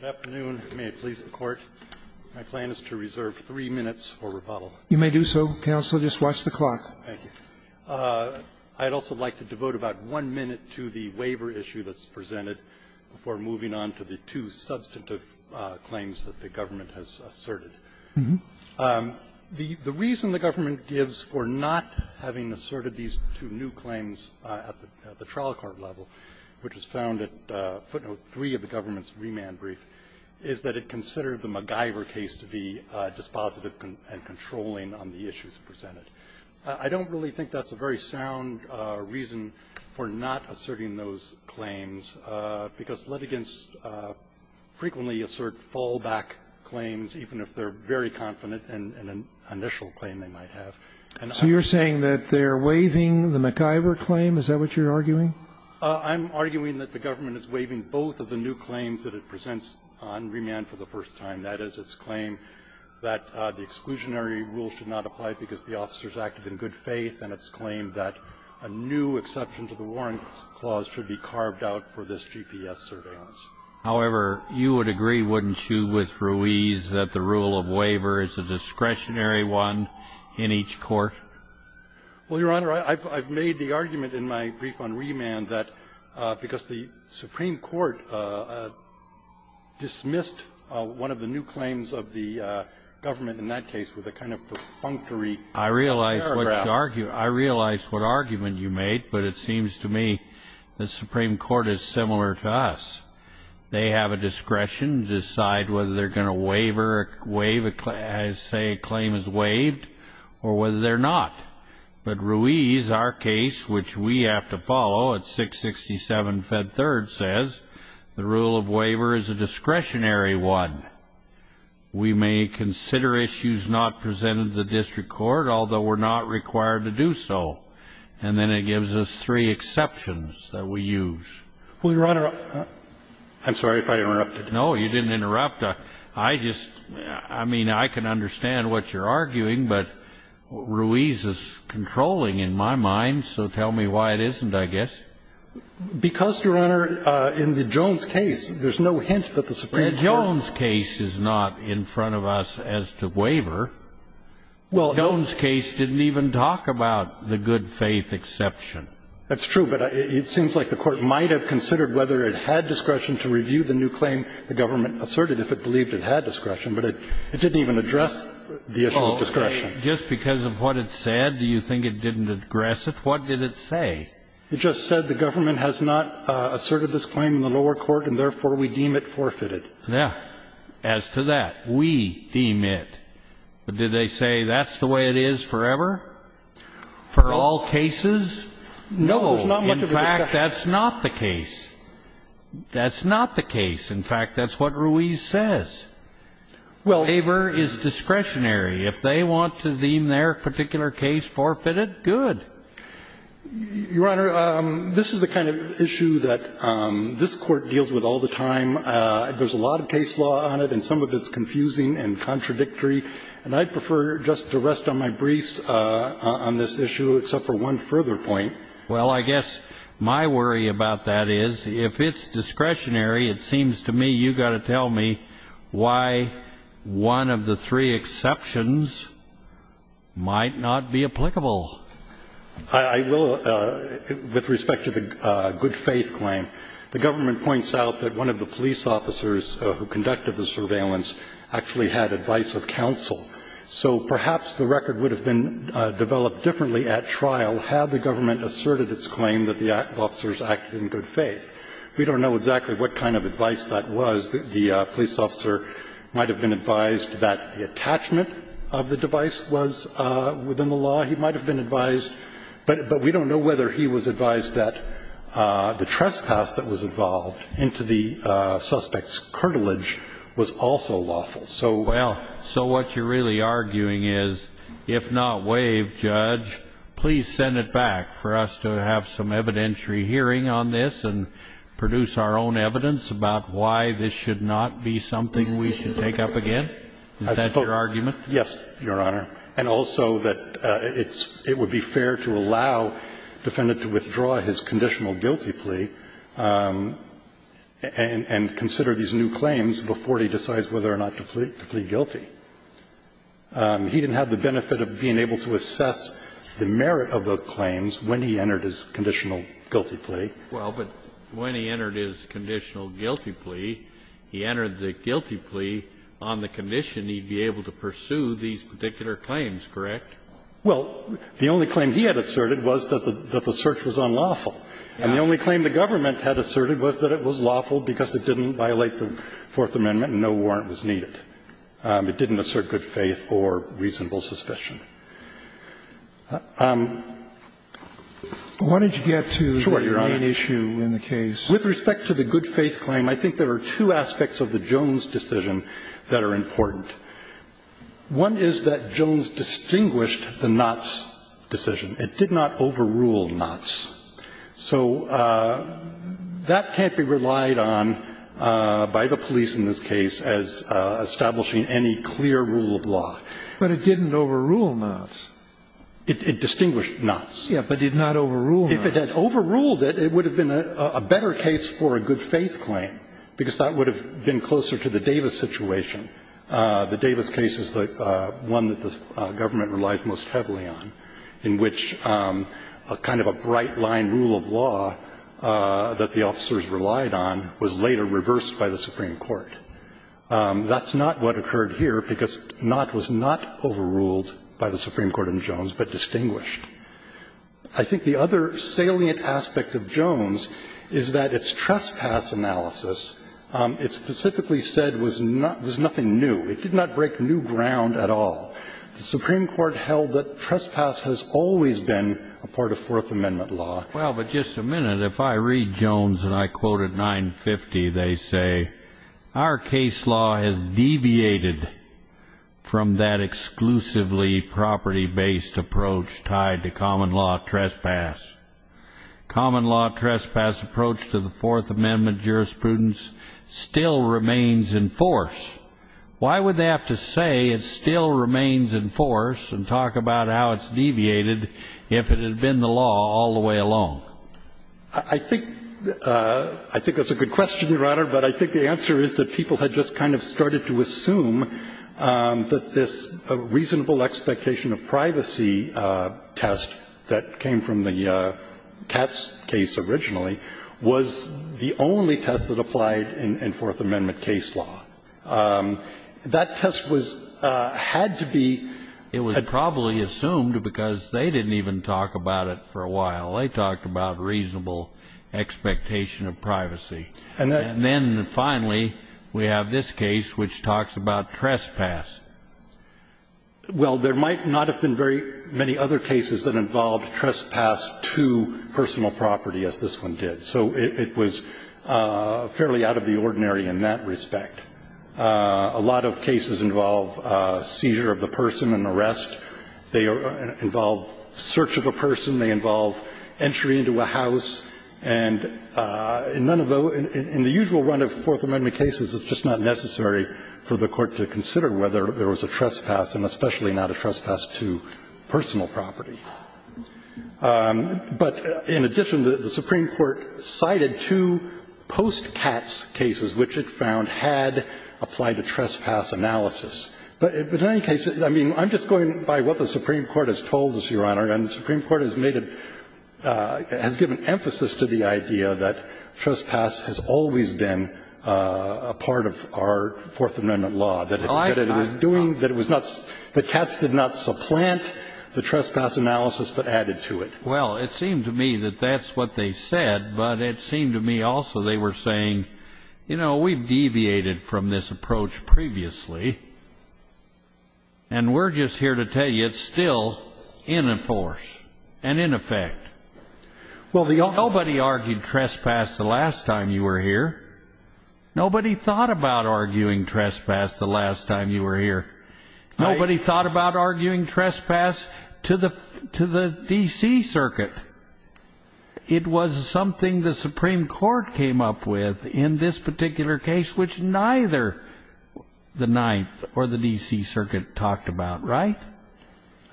Good afternoon. May it please the Court, my plan is to reserve three minutes for rebuttal. You may do so, Counsel. Just watch the clock. Thank you. I'd also like to devote about one minute to the waiver issue that's presented before moving on to the two substantive claims that the government has asserted. The reason the government gives for not having asserted these two new claims at the trial court level, which was found at footnote three of the government's remand brief, is that it considered the MacGyver case to be dispositive and controlling on the issues presented. I don't really think that's a very sound reason for not asserting those claims, because litigants frequently assert fallback claims, even if they're very confident in an initial claim they might have. So you're saying that they're waiving the MacGyver claim? Is that what you're arguing? I'm arguing that the government is waiving both of the new claims that it presents on remand for the first time. That is, its claim that the exclusionary rule should not apply because the officers acted in good faith, and its claim that a new exception to the warrant clause should be carved out for this GPS surveillance. However, you would agree, wouldn't you, with Ruiz, that the rule of waiver is a discretionary one in each court? Well, Your Honor, I've made the argument in my brief on remand that because the Supreme Court dismissed one of the new claims of the government in that case with a kind of perfunctory paragraph. I realize what you're arguing. I realize what argument you made, but it seems to me the Supreme Court is similar to us. They have a discretion to decide whether they're going to waiver a claim, say a claim is waived, or whether they're not. But Ruiz, our case, which we have to follow, at 667 Fed Third, says the rule of waiver is a discretionary one. We may consider issues not presented to the district court, although we're not required to do so. And then it gives us three exceptions that we use. Well, Your Honor, I'm sorry if I interrupted. No, you didn't interrupt. I just – I mean, I can understand what you're arguing, but Ruiz is controlling in my mind, so tell me why it isn't, I guess. Because, Your Honor, in the Jones case, there's no hint that the Supreme Court The Jones case is not in front of us as to waiver. The Jones case didn't even talk about the good-faith exception. That's true, but it seems like the Court might have considered whether it had discretion to review the new claim the government asserted if it believed it had discretion, but it didn't even address the issue of discretion. Just because of what it said, do you think it didn't address it? What did it say? It just said the government has not asserted this claim in the lower court, and therefore we deem it forfeited. Yeah. As to that, we deem it. But did they say that's the way it is forever, for all cases? No. In fact, that's not the case. That's not the case. In fact, that's what Ruiz says. Well, waiver is discretionary. If they want to deem their particular case forfeited, good. Your Honor, this is the kind of issue that this Court deals with all the time. There's a lot of case law on it, and some of it's confusing and contradictory. And I'd prefer just to rest on my briefs on this issue, except for one further point. Well, I guess my worry about that is, if it's discretionary, it seems to me you've got to tell me why one of the three exceptions might not be applicable. I will, with respect to the good faith claim. The government points out that one of the police officers who conducted the surveillance actually had advice of counsel. So perhaps the record would have been developed differently at trial had the government asserted its claim that the officers acted in good faith. We don't know exactly what kind of advice that was. The police officer might have been advised that the attachment of the device was within the law. He might have been advised. But we don't know whether he was advised that the trespass that was involved into the suspect's cartilage was also lawful. So what you're really arguing is, if not waived, Judge, please send it back for us to have some evidentiary hearing on this and produce our own evidence about why this should not be something we should take up again? Is that your argument? Yes, Your Honor. And also that it's – it would be fair to allow the defendant to withdraw his conditional guilty plea and consider these new claims before he decides whether or not to plead guilty. He didn't have the benefit of being able to assess the merit of the claims when he entered his conditional guilty plea. Well, but when he entered his conditional guilty plea, he entered the guilty plea on the condition he'd be able to pursue these particular claims, correct? Well, the only claim he had asserted was that the search was unlawful. And the only claim the government had asserted was that it was lawful because it didn't violate the Fourth Amendment and no warrant was needed. It didn't assert good faith or reasonable suspicion. Why don't you get to the main issue in the case? With respect to the good faith claim, I think there are two aspects of the Jones decision that are important. One is that Jones distinguished the Knotts decision. It did not overrule Knotts. So that can't be relied on by the police in this case as establishing any clear rule of law. But it didn't overrule Knotts. It distinguished Knotts. Yes, but did not overrule Knotts. If it had overruled it, it would have been a better case for a good faith claim because that would have been closer to the Davis situation. The Davis case is the one that the government relies most heavily on, in which kind of a bright-line rule of law that the officers relied on was later reversed by the Supreme Court. That's not what occurred here, because Knotts was not overruled by the Supreme Court in Jones, but distinguished. I think the other salient aspect of Jones is that its trespass analysis, it specifically said, was nothing new. It did not break new ground at all. The Supreme Court held that trespass has always been a part of Fourth Amendment law. Well, but just a minute. If I read Jones and I quote at 950, they say, our case law has deviated from that exclusively property-based approach tied to common law trespass. Common law trespass approach to the Fourth Amendment jurisprudence still remains in force. Why would they have to say it still remains in force and talk about how it's I think that's a good question, Your Honor, but I think the answer is that people had just kind of started to assume that this reasonable expectation of privacy test that came from the Katz case originally was the only test that applied in Fourth Amendment case law. That test was had to be at the same time as the Fourth Amendment case law, and it was the only test that was applied in Fourth Amendment case law. And so that's why we talked about reasonable expectation of privacy. And then finally, we have this case which talks about trespass. Well, there might not have been very many other cases that involved trespass to personal property as this one did. So it was fairly out of the ordinary in that respect. A lot of cases involve seizure of the person, an arrest. They involve search of a person. They involve entry into a house. And none of those – in the usual run of Fourth Amendment cases, it's just not necessary for the Court to consider whether there was a trespass, and especially not a trespass to personal property. But in addition, the Supreme Court cited two post-Katz cases which it found had applied a trespass analysis. But in any case, I mean, I'm just going by what the Supreme Court has told us, Your Honor. And the Supreme Court has made a – has given emphasis to the idea that trespass has always been a part of our Fourth Amendment law. That it was doing – that it was not – that Katz did not supplant the trespass analysis but added to it. Well, it seemed to me that that's what they said, but it seemed to me also they were saying, you know, we've deviated from this approach previously. And we're just here to tell you it's still in a force and in effect. Well, the – Nobody argued trespass the last time you were here. Nobody thought about arguing trespass the last time you were here. Nobody thought about arguing trespass to the – to the D.C. Circuit. It was something the Supreme Court came up with in this particular case, which neither the Ninth or the D.C. Circuit talked about, right?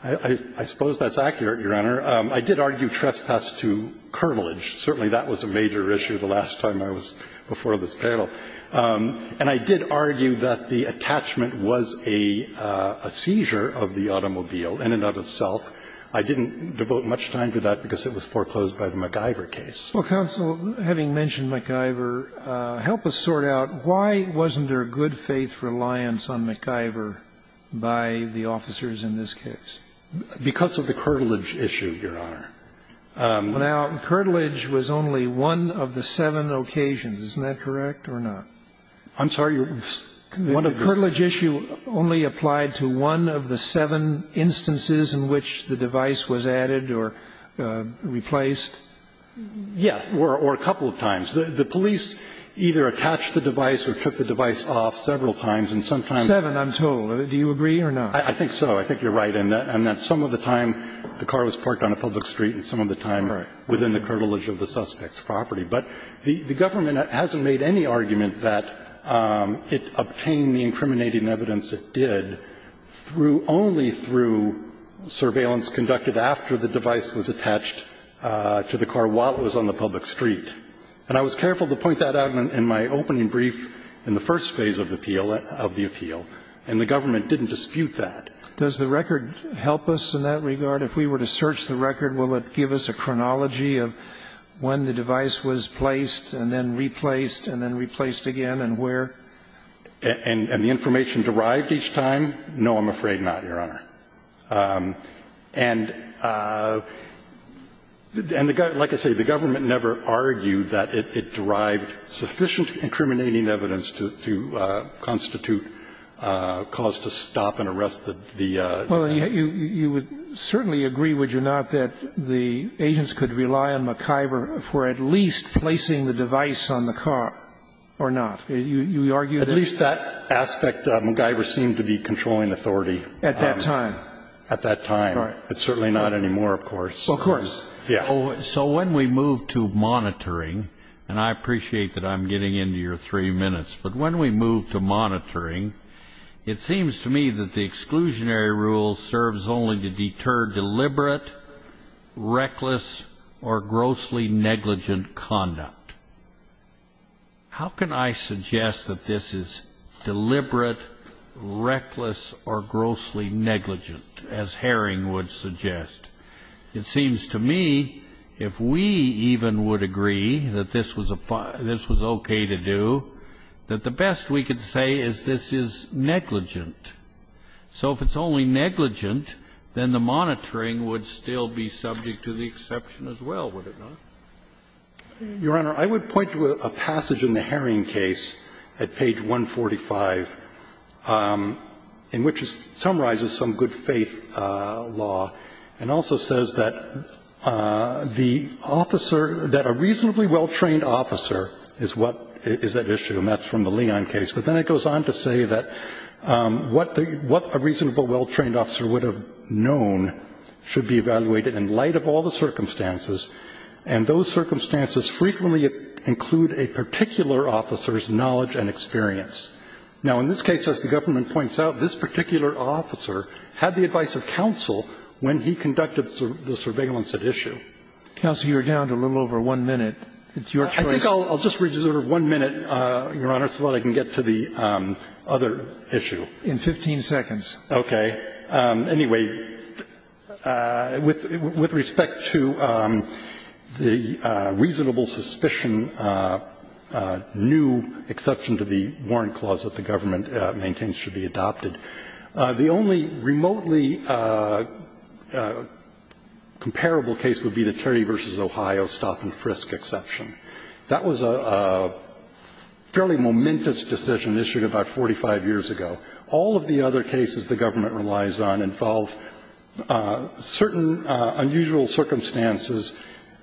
I – I suppose that's accurate, Your Honor. I did argue trespass to curvilege. Certainly that was a major issue the last time I was before this panel. And I did argue that the attachment was a – a seizure of the automobile in and of itself. I didn't devote much time to that because it was foreclosed by the MacGyver case. Well, counsel, having mentioned MacGyver, help us sort out why wasn't there good faith reliance on MacGyver by the officers in this case? Because of the curvilege issue, Your Honor. Now, curvilege was only one of the seven occasions. I'm sorry, Your Honor. The curvilege issue only applied to one of the seven instances in which the device was added or replaced? Yes, or a couple of times. The police either attached the device or took the device off several times, and sometimes they did that. Seven, I'm told. Do you agree or not? I think so. I think you're right in that some of the time the car was parked on a public street and some of the time within the curvilege of the suspect's property. But the government hasn't made any argument that it obtained the incriminating evidence it did through only through surveillance conducted after the device was attached to the car while it was on the public street. And I was careful to point that out in my opening brief in the first phase of the appeal, and the government didn't dispute that. Does the record help us in that regard? If we were to search the record, will it give us a chronology of when the device was placed and then replaced and then replaced again and where? And the information derived each time? No, I'm afraid not, Your Honor. And like I say, the government never argued that it derived sufficient incriminating evidence to constitute cause to stop and arrest the device. Well, you would certainly agree, would you not, that the agents could rely on McIver for at least placing the device on the car or not? You argue that? At least that aspect, McIver seemed to be controlling authority. At that time? At that time. It's certainly not anymore, of course. Of course. Yeah. So when we move to monitoring, and I appreciate that I'm getting into your three minutes, but when we move to monitoring, it seems to me that the exclusionary rule serves only to deter deliberate, reckless, or grossly negligent conduct. How can I suggest that this is deliberate, reckless, or grossly negligent, as Herring would suggest? It seems to me, if we even would agree that this was OK to do, that the best we could say is this is negligent. So if it's only negligent, then the monitoring would still be subject to the exception as well, would it not? Your Honor, I would point to a passage in the Herring case at page 145, in which it summarizes some good faith law and also says that the officer, that a reasonably well-trained officer is what is at issue, and that's from the Leon case. But then it goes on to say that what a reasonable, well-trained officer would have known should be evaluated in light of all the circumstances, and those circumstances frequently include a particular officer's knowledge and experience. Now, in this case, as the government points out, this particular officer had the advice of counsel when he conducted the surveillance at issue. Counsel, you're down to a little over one minute. It's your choice. I think I'll just reserve one minute, Your Honor, so that I can get to the other issue. In 15 seconds. Okay. Anyway, with respect to the reasonable suspicion, new exception to the warrant clause that the government maintains should be adopted, the only remotely comparable case would be the Terry v. Ohio stop-and-frisk exception. That was a fairly momentous decision issued about 45 years ago. All of the other cases the government relies on involve certain unusual circumstances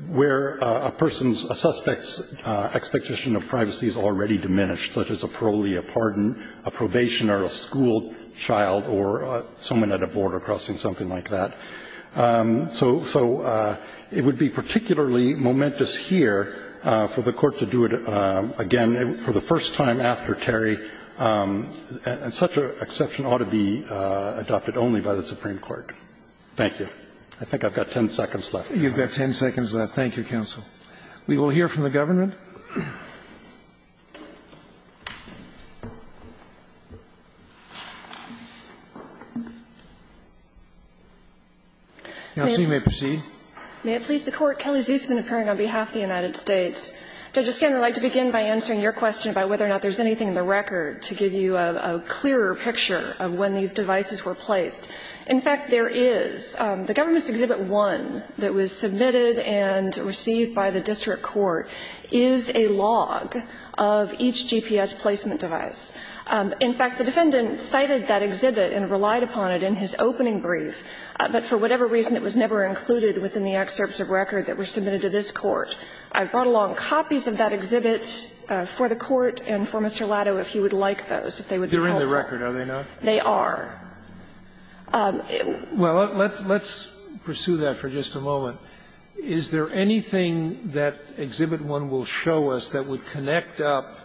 where a person's, a suspect's expectation of privacy is already diminished, such as a parolee, a pardon, a probationer, a school child, or someone at a border crossing, something like that. So it would be particularly momentous here for the Court to do it again, for the first time after Terry, and such an exception ought to be adopted only by the Supreme Court. Thank you. I think I've got 10 seconds left. You've got 10 seconds left. Thank you, counsel. We will hear from the government. Counsel, you may proceed. May it please the Court. Kelly Ziesman, appearing on behalf of the United States. Judge O'Connor, I'd like to begin by answering your question about whether or not there's anything in the record to give you a clearer picture of when these devices were placed. In fact, there is. The government's Exhibit 1 that was submitted and received by the district court is a log of each GPS placement device. In fact, the defendant cited that exhibit and relied upon it in his opening brief. But for whatever reason, it was never included within the excerpts of record that were submitted to this Court. I've brought along copies of that exhibit for the Court and for Mr. Latto if he would like those, if they would be helpful. They're in the record, are they not? They are. Well, let's pursue that for just a moment. Is there anything that Exhibit 1 will show us that would connect up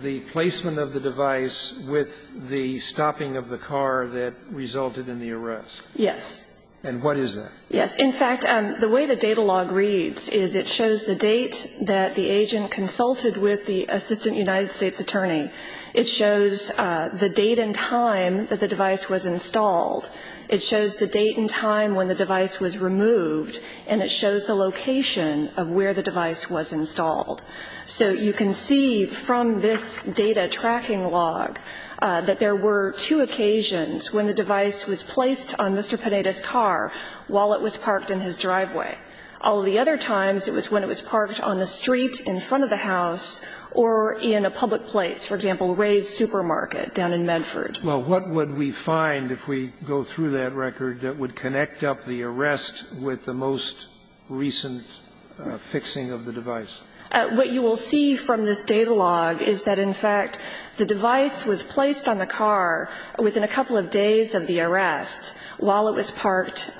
the placement of the device with the stopping of the car that resulted in the arrest? Yes. And what is that? Yes. In fact, the way the data log reads is it shows the date that the agent consulted with the assistant United States attorney. It shows the date and time that the device was installed. It shows the date and time when the device was removed, and it shows the location of where the device was installed. So you can see from this data tracking log that there were two occasions when the device was placed on Mr. Panetta's car while it was parked in his driveway. All of the other times, it was when it was parked on the street in front of the house or in a public place, for example, Ray's Supermarket down in Medford. Well, what would we find if we go through that record that would connect up the arrest with the most recent fixing of the device? What you will see from this data log is that, in fact, the device was placed on the car within a couple of days of the arrest while it was parked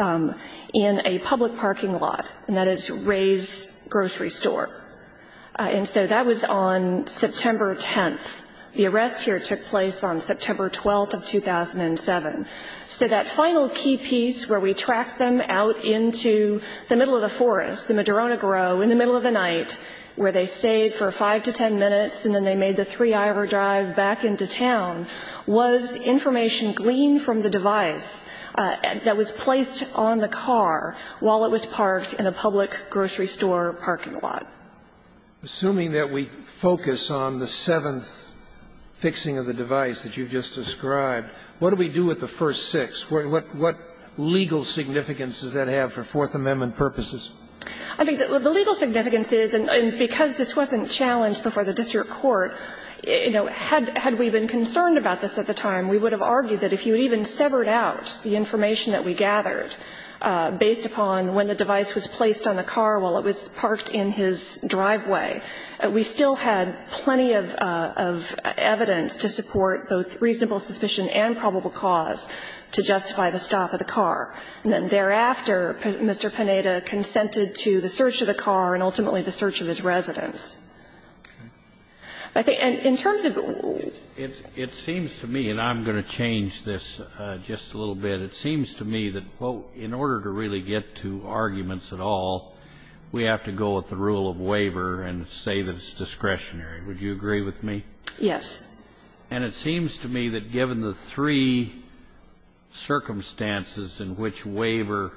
in a public parking lot, and that is Ray's Grocery Store. And so that was on September 10th. The arrest here took place on September 12th of 2007. So that final key piece where we track them out into the middle of the forest, the Madrona Grove, in the middle of the night, where they stayed for 5 to 10 minutes and then they made the 3-hour drive back into town, was information gleaned from the device that was placed on the car while it was parked in a public grocery store parking lot. Assuming that we focus on the seventh fixing of the device that you've just described, what do we do with the first six? What legal significance does that have for Fourth Amendment purposes? I think the legal significance is, and because this wasn't challenged before the district court, you know, had we been concerned about this at the time, we would have argued that if you even severed out the information that we gathered based upon when the car was parked in this driveway, we still had plenty of evidence to support both reasonable suspicion and probable cause to justify the stop of the car. And then thereafter, Mr. Pineda consented to the search of the car and ultimately the search of his residence. And in terms of the rules, it seems to me, and I'm going to change this just a little bit, it seems to me that in order to really get to arguments at all, we have to go with the rule of waiver and say that it's discretionary. Would you agree with me? Yes. And it seems to me that given the three circumstances in which waiver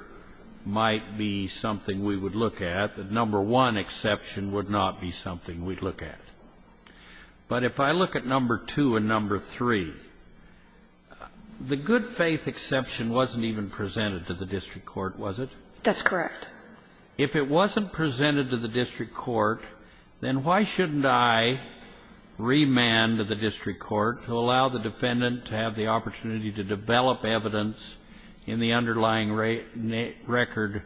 might be something we would look at, that number one exception would not be something we'd look at. But if I look at number two and number three, the good faith exception wasn't even presented to the district court, was it? That's correct. If it wasn't presented to the district court, then why shouldn't I remand to the district court to allow the defendant to have the opportunity to develop evidence in the underlying record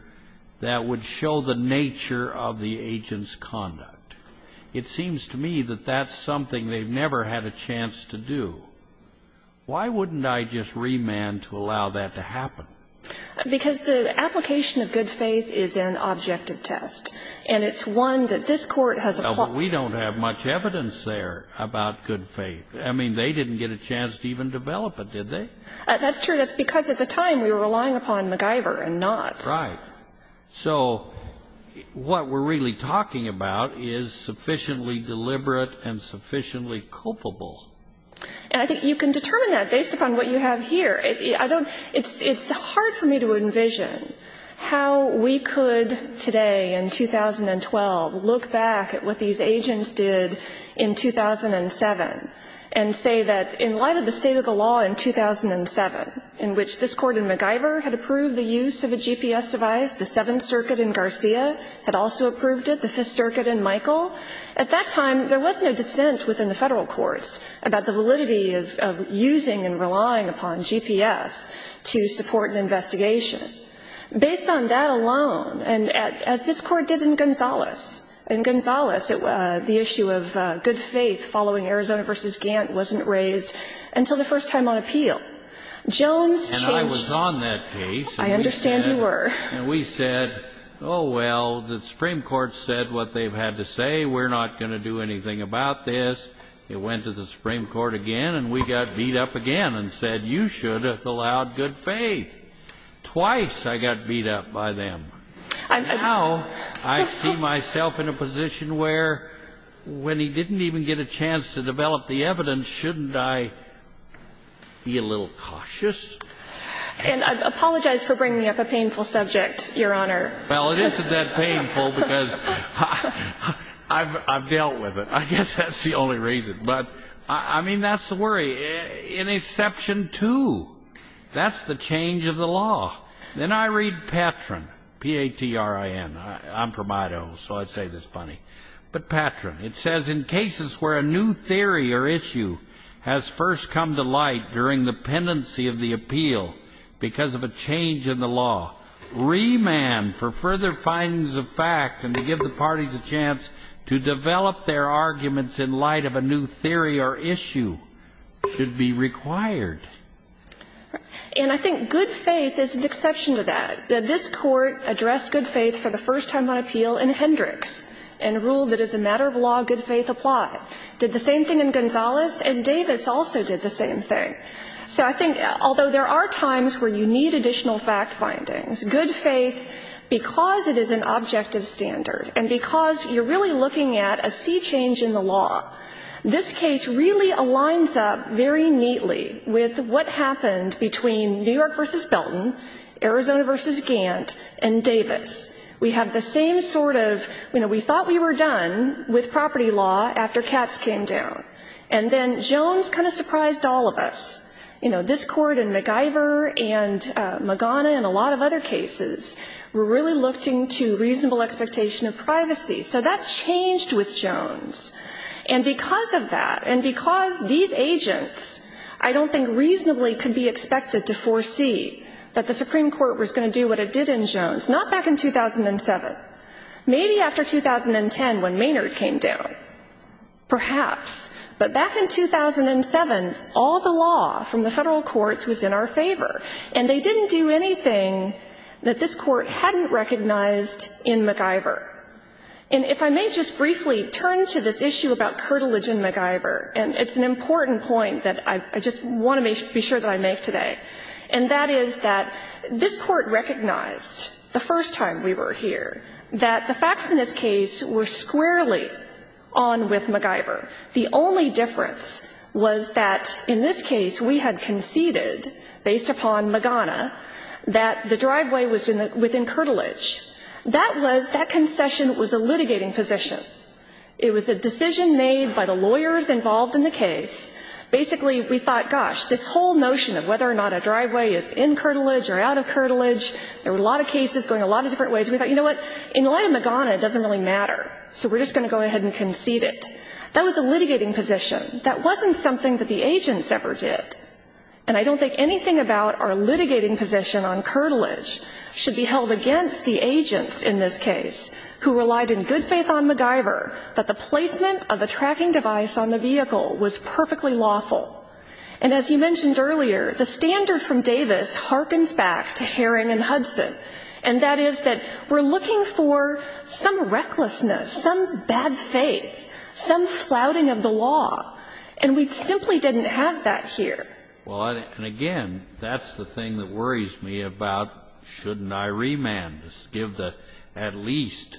that would show the nature of the agent's conduct? It seems to me that that's something they've never had a chance to do. Why wouldn't I just remand to allow that to happen? Because the application of good faith is an objective test, and it's one that this Court has applied. But we don't have much evidence there about good faith. I mean, they didn't get a chance to even develop it, did they? That's true. That's because at the time we were relying upon MacGyver and not. Right. So what we're really talking about is sufficiently deliberate and sufficiently culpable. And I think you can determine that based upon what you have here. It's hard for me to envision how we could today in 2012 look back at what these agents did in 2007 and say that in light of the state of the law in 2007, in which this Court in MacGyver had approved the use of a GPS device, the Seventh Circuit in Garcia had also approved it, the Fifth Circuit in Michael, at that time there was no dissent within the federal courts about the validity of using and relying upon GPS to support an investigation. Based on that alone, and as this Court did in Gonzales, in Gonzales, the issue of good faith following Arizona v. Gantt wasn't raised until the first time on appeal. Jones changed. And I was on that case. I understand you were. And we said, oh, well, the Supreme Court said what they've had to say, we're not going to do anything about this. It went to the Supreme Court again, and we got beat up again and said, you should have allowed good faith. Twice I got beat up by them. Now I see myself in a position where when he didn't even get a chance to develop the evidence, shouldn't I be a little cautious? And I apologize for bringing up a painful subject, Your Honor. Well, it isn't that painful because I've dealt with it. I guess that's the only reason. But I mean, that's the worry. In Exception 2, that's the change of the law. Then I read Patrin, P-A-T-R-I-N. I'm from Idaho, so I say this funny. But Patrin, it says, in cases where a new theory or issue has first come to light during the pendency of the appeal because of a change in the law, remand for further findings of fact and to give the parties a chance to develop their arguments in light of a new theory or issue should be required. And I think good faith is an exception to that. This Court addressed good faith for the first time on appeal in Hendricks and ruled that as a matter of law, good faith applied. Did the same thing in Gonzales, and Davis also did the same thing. So I think, although there are times where you need additional fact findings, good faith, because it is an objective standard and because you're really looking at a sea change in the law, this case really aligns up very neatly with what happened between New York versus Belton, Arizona versus Gant, and Davis. We have the same sort of, you know, we thought we were done with property law after Katz came down. And then Jones kind of surprised all of us. You know, this Court and McIver and Magana and a lot of other cases were really looking to reasonable expectation of privacy. So that changed with Jones. And because of that, and because these agents, I don't think reasonably could be expected to foresee that the Supreme Court was going to do what it did in Jones, not back in 2007. Maybe after 2010 when Maynard came down, perhaps. But back in 2007, all the law from the federal courts was in our favor. And they didn't do anything that this Court hadn't recognized in McIver. And if I may just briefly turn to this issue about curtilage in McIver, and it's an important point that I just want to be sure that I make today, and that is that this Court recognized the first time we were here that the facts in this case were squarely on with McIver. The only difference was that in this case we had conceded, based upon Magana, that the driveway was within curtilage. That was, that concession was a litigating position. It was a decision made by the lawyers involved in the case. Basically, we thought, gosh, this whole notion of whether or not a driveway is in curtilage or out of curtilage, there were a lot of cases going a lot of different ways, and we thought, you know what, in light of Magana, it doesn't really matter. So we're just going to go ahead and concede it. That was a litigating position. That wasn't something that the agents ever did. And I don't think anything about our litigating position on curtilage should be held against the agents in this case who relied in good faith on McIver that the placement of a tracking device on the vehicle was perfectly lawful. And as you mentioned earlier, the standard from Davis harkens back to Herring and Hudson, and that is that we're looking for some recklessness, some bad faith, some flouting of the law, and we simply didn't have that here. Well, and again, that's the thing that worries me about shouldn't I remand, give at least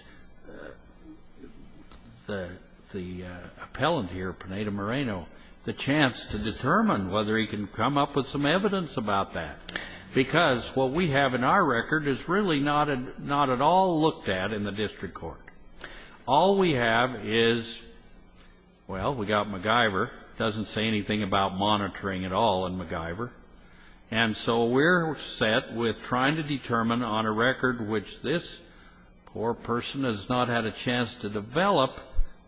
the appellant here, Pineda Moreno, the chance to determine whether he can come up with some evidence about that, because what we have in our record is really not at all looked at in the district court. All we have is, well, we've got McIver, doesn't say anything about monitoring at all in McIver, and so we're set with trying to determine on a record which this poor person has not had a chance to develop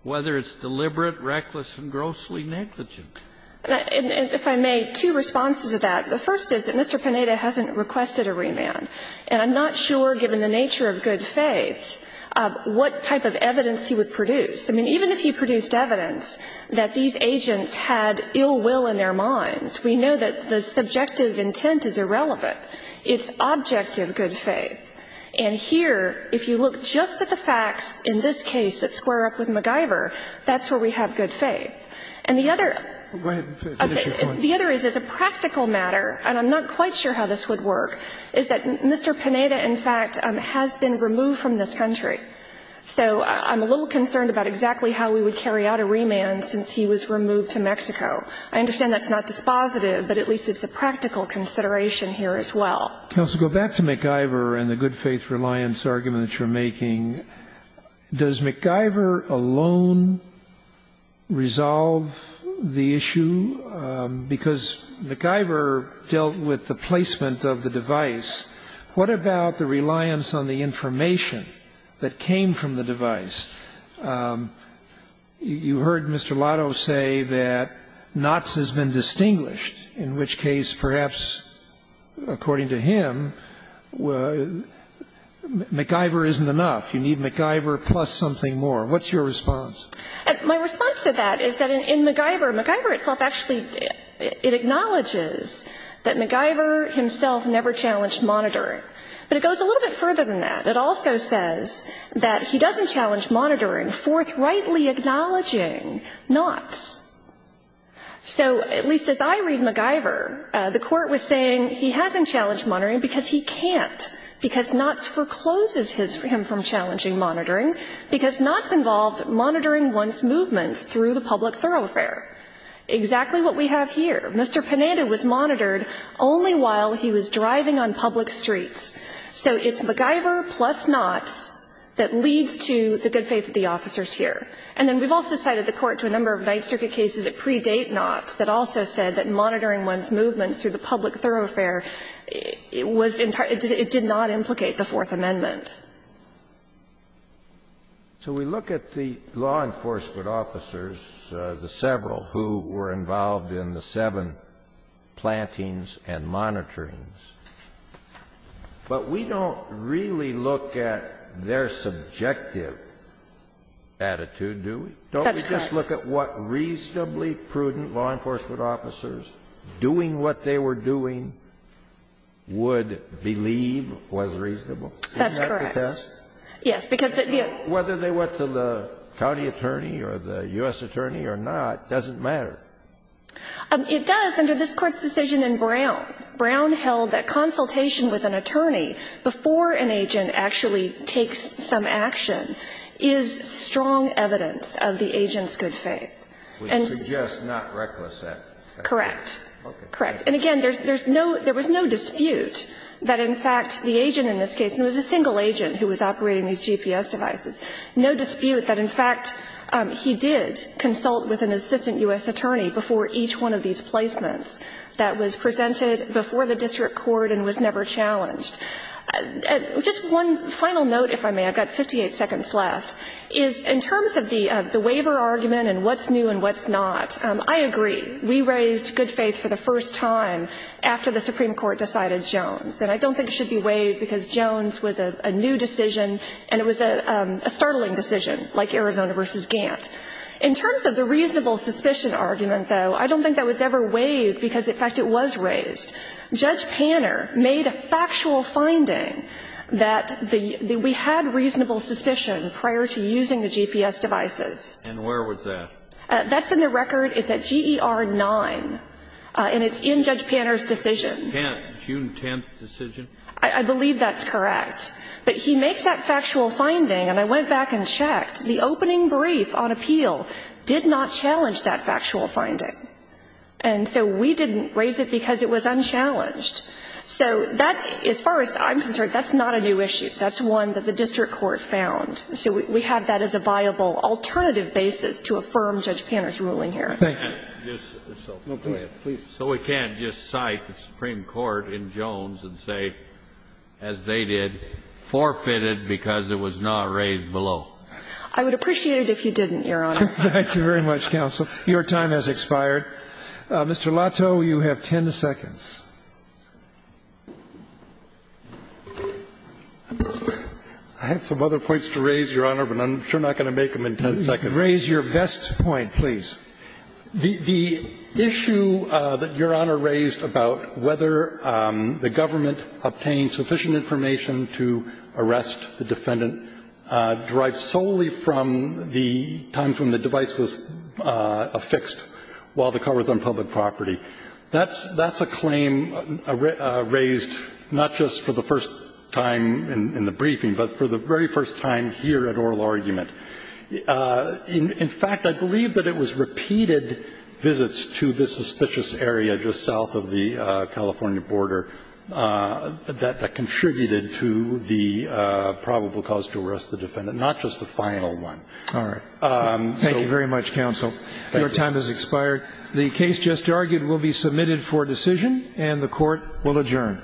whether it's deliberate, reckless, and grossly negligent. And if I may, two responses to that. The first is that Mr. Pineda hasn't requested a remand, and I'm not sure, given the nature of good faith, what type of evidence he would produce. I mean, even if he produced evidence that these agents had ill will in their minds, we know that the subjective intent is irrelevant. It's objective good faith. And here, if you look just at the facts in this case that square up with McIver, that's where we have good faith. And the other as a practical matter, and I'm not quite sure how this would work, is that Mr. Pineda, in fact, has been removed from this country. So I'm a little concerned about exactly how we would carry out a remand since he was removed to Mexico. I understand that's not dispositive, but at least it's a practical consideration here as well. Scalia. Counsel, go back to McIver and the good faith reliance argument that you're making. Does McIver alone resolve the issue? Because McIver dealt with the placement of the device. What about the reliance on the information that came from the device? You heard Mr. Lotto say that Knots has been distinguished, in which case, perhaps, according to him, McIver isn't enough. You need McIver plus something more. What's your response? My response to that is that in McIver, McIver itself actually, it acknowledges that McIver himself never challenged monitoring. But it goes a little bit further than that. It also says that he doesn't challenge monitoring, forthrightly acknowledging Knots. So at least as I read McIver, the court was saying he hasn't challenged monitoring because he can't, because Knots forecloses him from challenging monitoring, because Knots involved monitoring one's movements through the public thoroughfare. Exactly what we have here. Mr. Pananda was monitored only while he was driving on public streets. So it's McIver plus Knots that leads to the good faith of the officers here. And then we've also cited the court to a number of Ninth Circuit cases that predate Knots that also said that monitoring one's movements through the public thoroughfare was entirely, it did not implicate the Fourth Amendment. So we look at the law enforcement officers, the several who were involved in the seven plantings and monitorings, but we don't really look at their subjective attitude, do we? That's correct. Don't we just look at what reasonably prudent law enforcement officers doing what That's correct. Yes, because the Whether they went to the county attorney or the U.S. attorney or not doesn't matter. It does under this Court's decision in Brown. Brown held that consultation with an attorney before an agent actually takes some action is strong evidence of the agent's good faith. We suggest not reckless at that point. Correct. Correct. And again, there's no, there was no dispute that in fact the agent in this case, and it was a single agent who was operating these GPS devices, no dispute that in fact he did consult with an assistant U.S. attorney before each one of these placements that was presented before the district court and was never challenged. Just one final note, if I may, I've got 58 seconds left, is in terms of the waiver argument and what's new and what's not, I agree. We raised good faith for the first time after the Supreme Court decided Jones. And I don't think it should be waived because Jones was a new decision and it was a startling decision like Arizona v. Gantt. In terms of the reasonable suspicion argument, though, I don't think that was ever waived because in fact it was raised. Judge Panner made a factual finding that we had reasonable suspicion prior to using the GPS devices. And where was that? That's in the record. It's at GER 9. And it's in Judge Panner's decision. Panner's June 10th decision? I believe that's correct. But he makes that factual finding, and I went back and checked, the opening brief on appeal did not challenge that factual finding. And so we didn't raise it because it was unchallenged. So that, as far as I'm concerned, that's not a new issue. That's one that the district court found. So we have that as a viable alternative basis to affirm Judge Panner's ruling here. Thank you. So we can't just cite the Supreme Court in Jones and say, as they did, forfeited because it was not raised below. I would appreciate it if you didn't, Your Honor. Thank you very much, counsel. Your time has expired. Mr. Lato, you have 10 seconds. I have some other points to raise, Your Honor, but I'm sure not going to make them in 10 seconds. Raise your best point, please. The issue that Your Honor raised about whether the government obtained sufficient information to arrest the defendant derived solely from the time from the device was affixed while the car was on public property, that's a claim raised not just for the first time in the briefing, but for the very first time here at oral argument. In fact, I believe that it was repeated visits to this suspicious area just south of the California border that contributed to the probable cause to arrest the defendant, not just the final one. All right. Thank you very much, counsel. Your time has expired. The case just argued will be submitted for decision, and the Court will adjourn.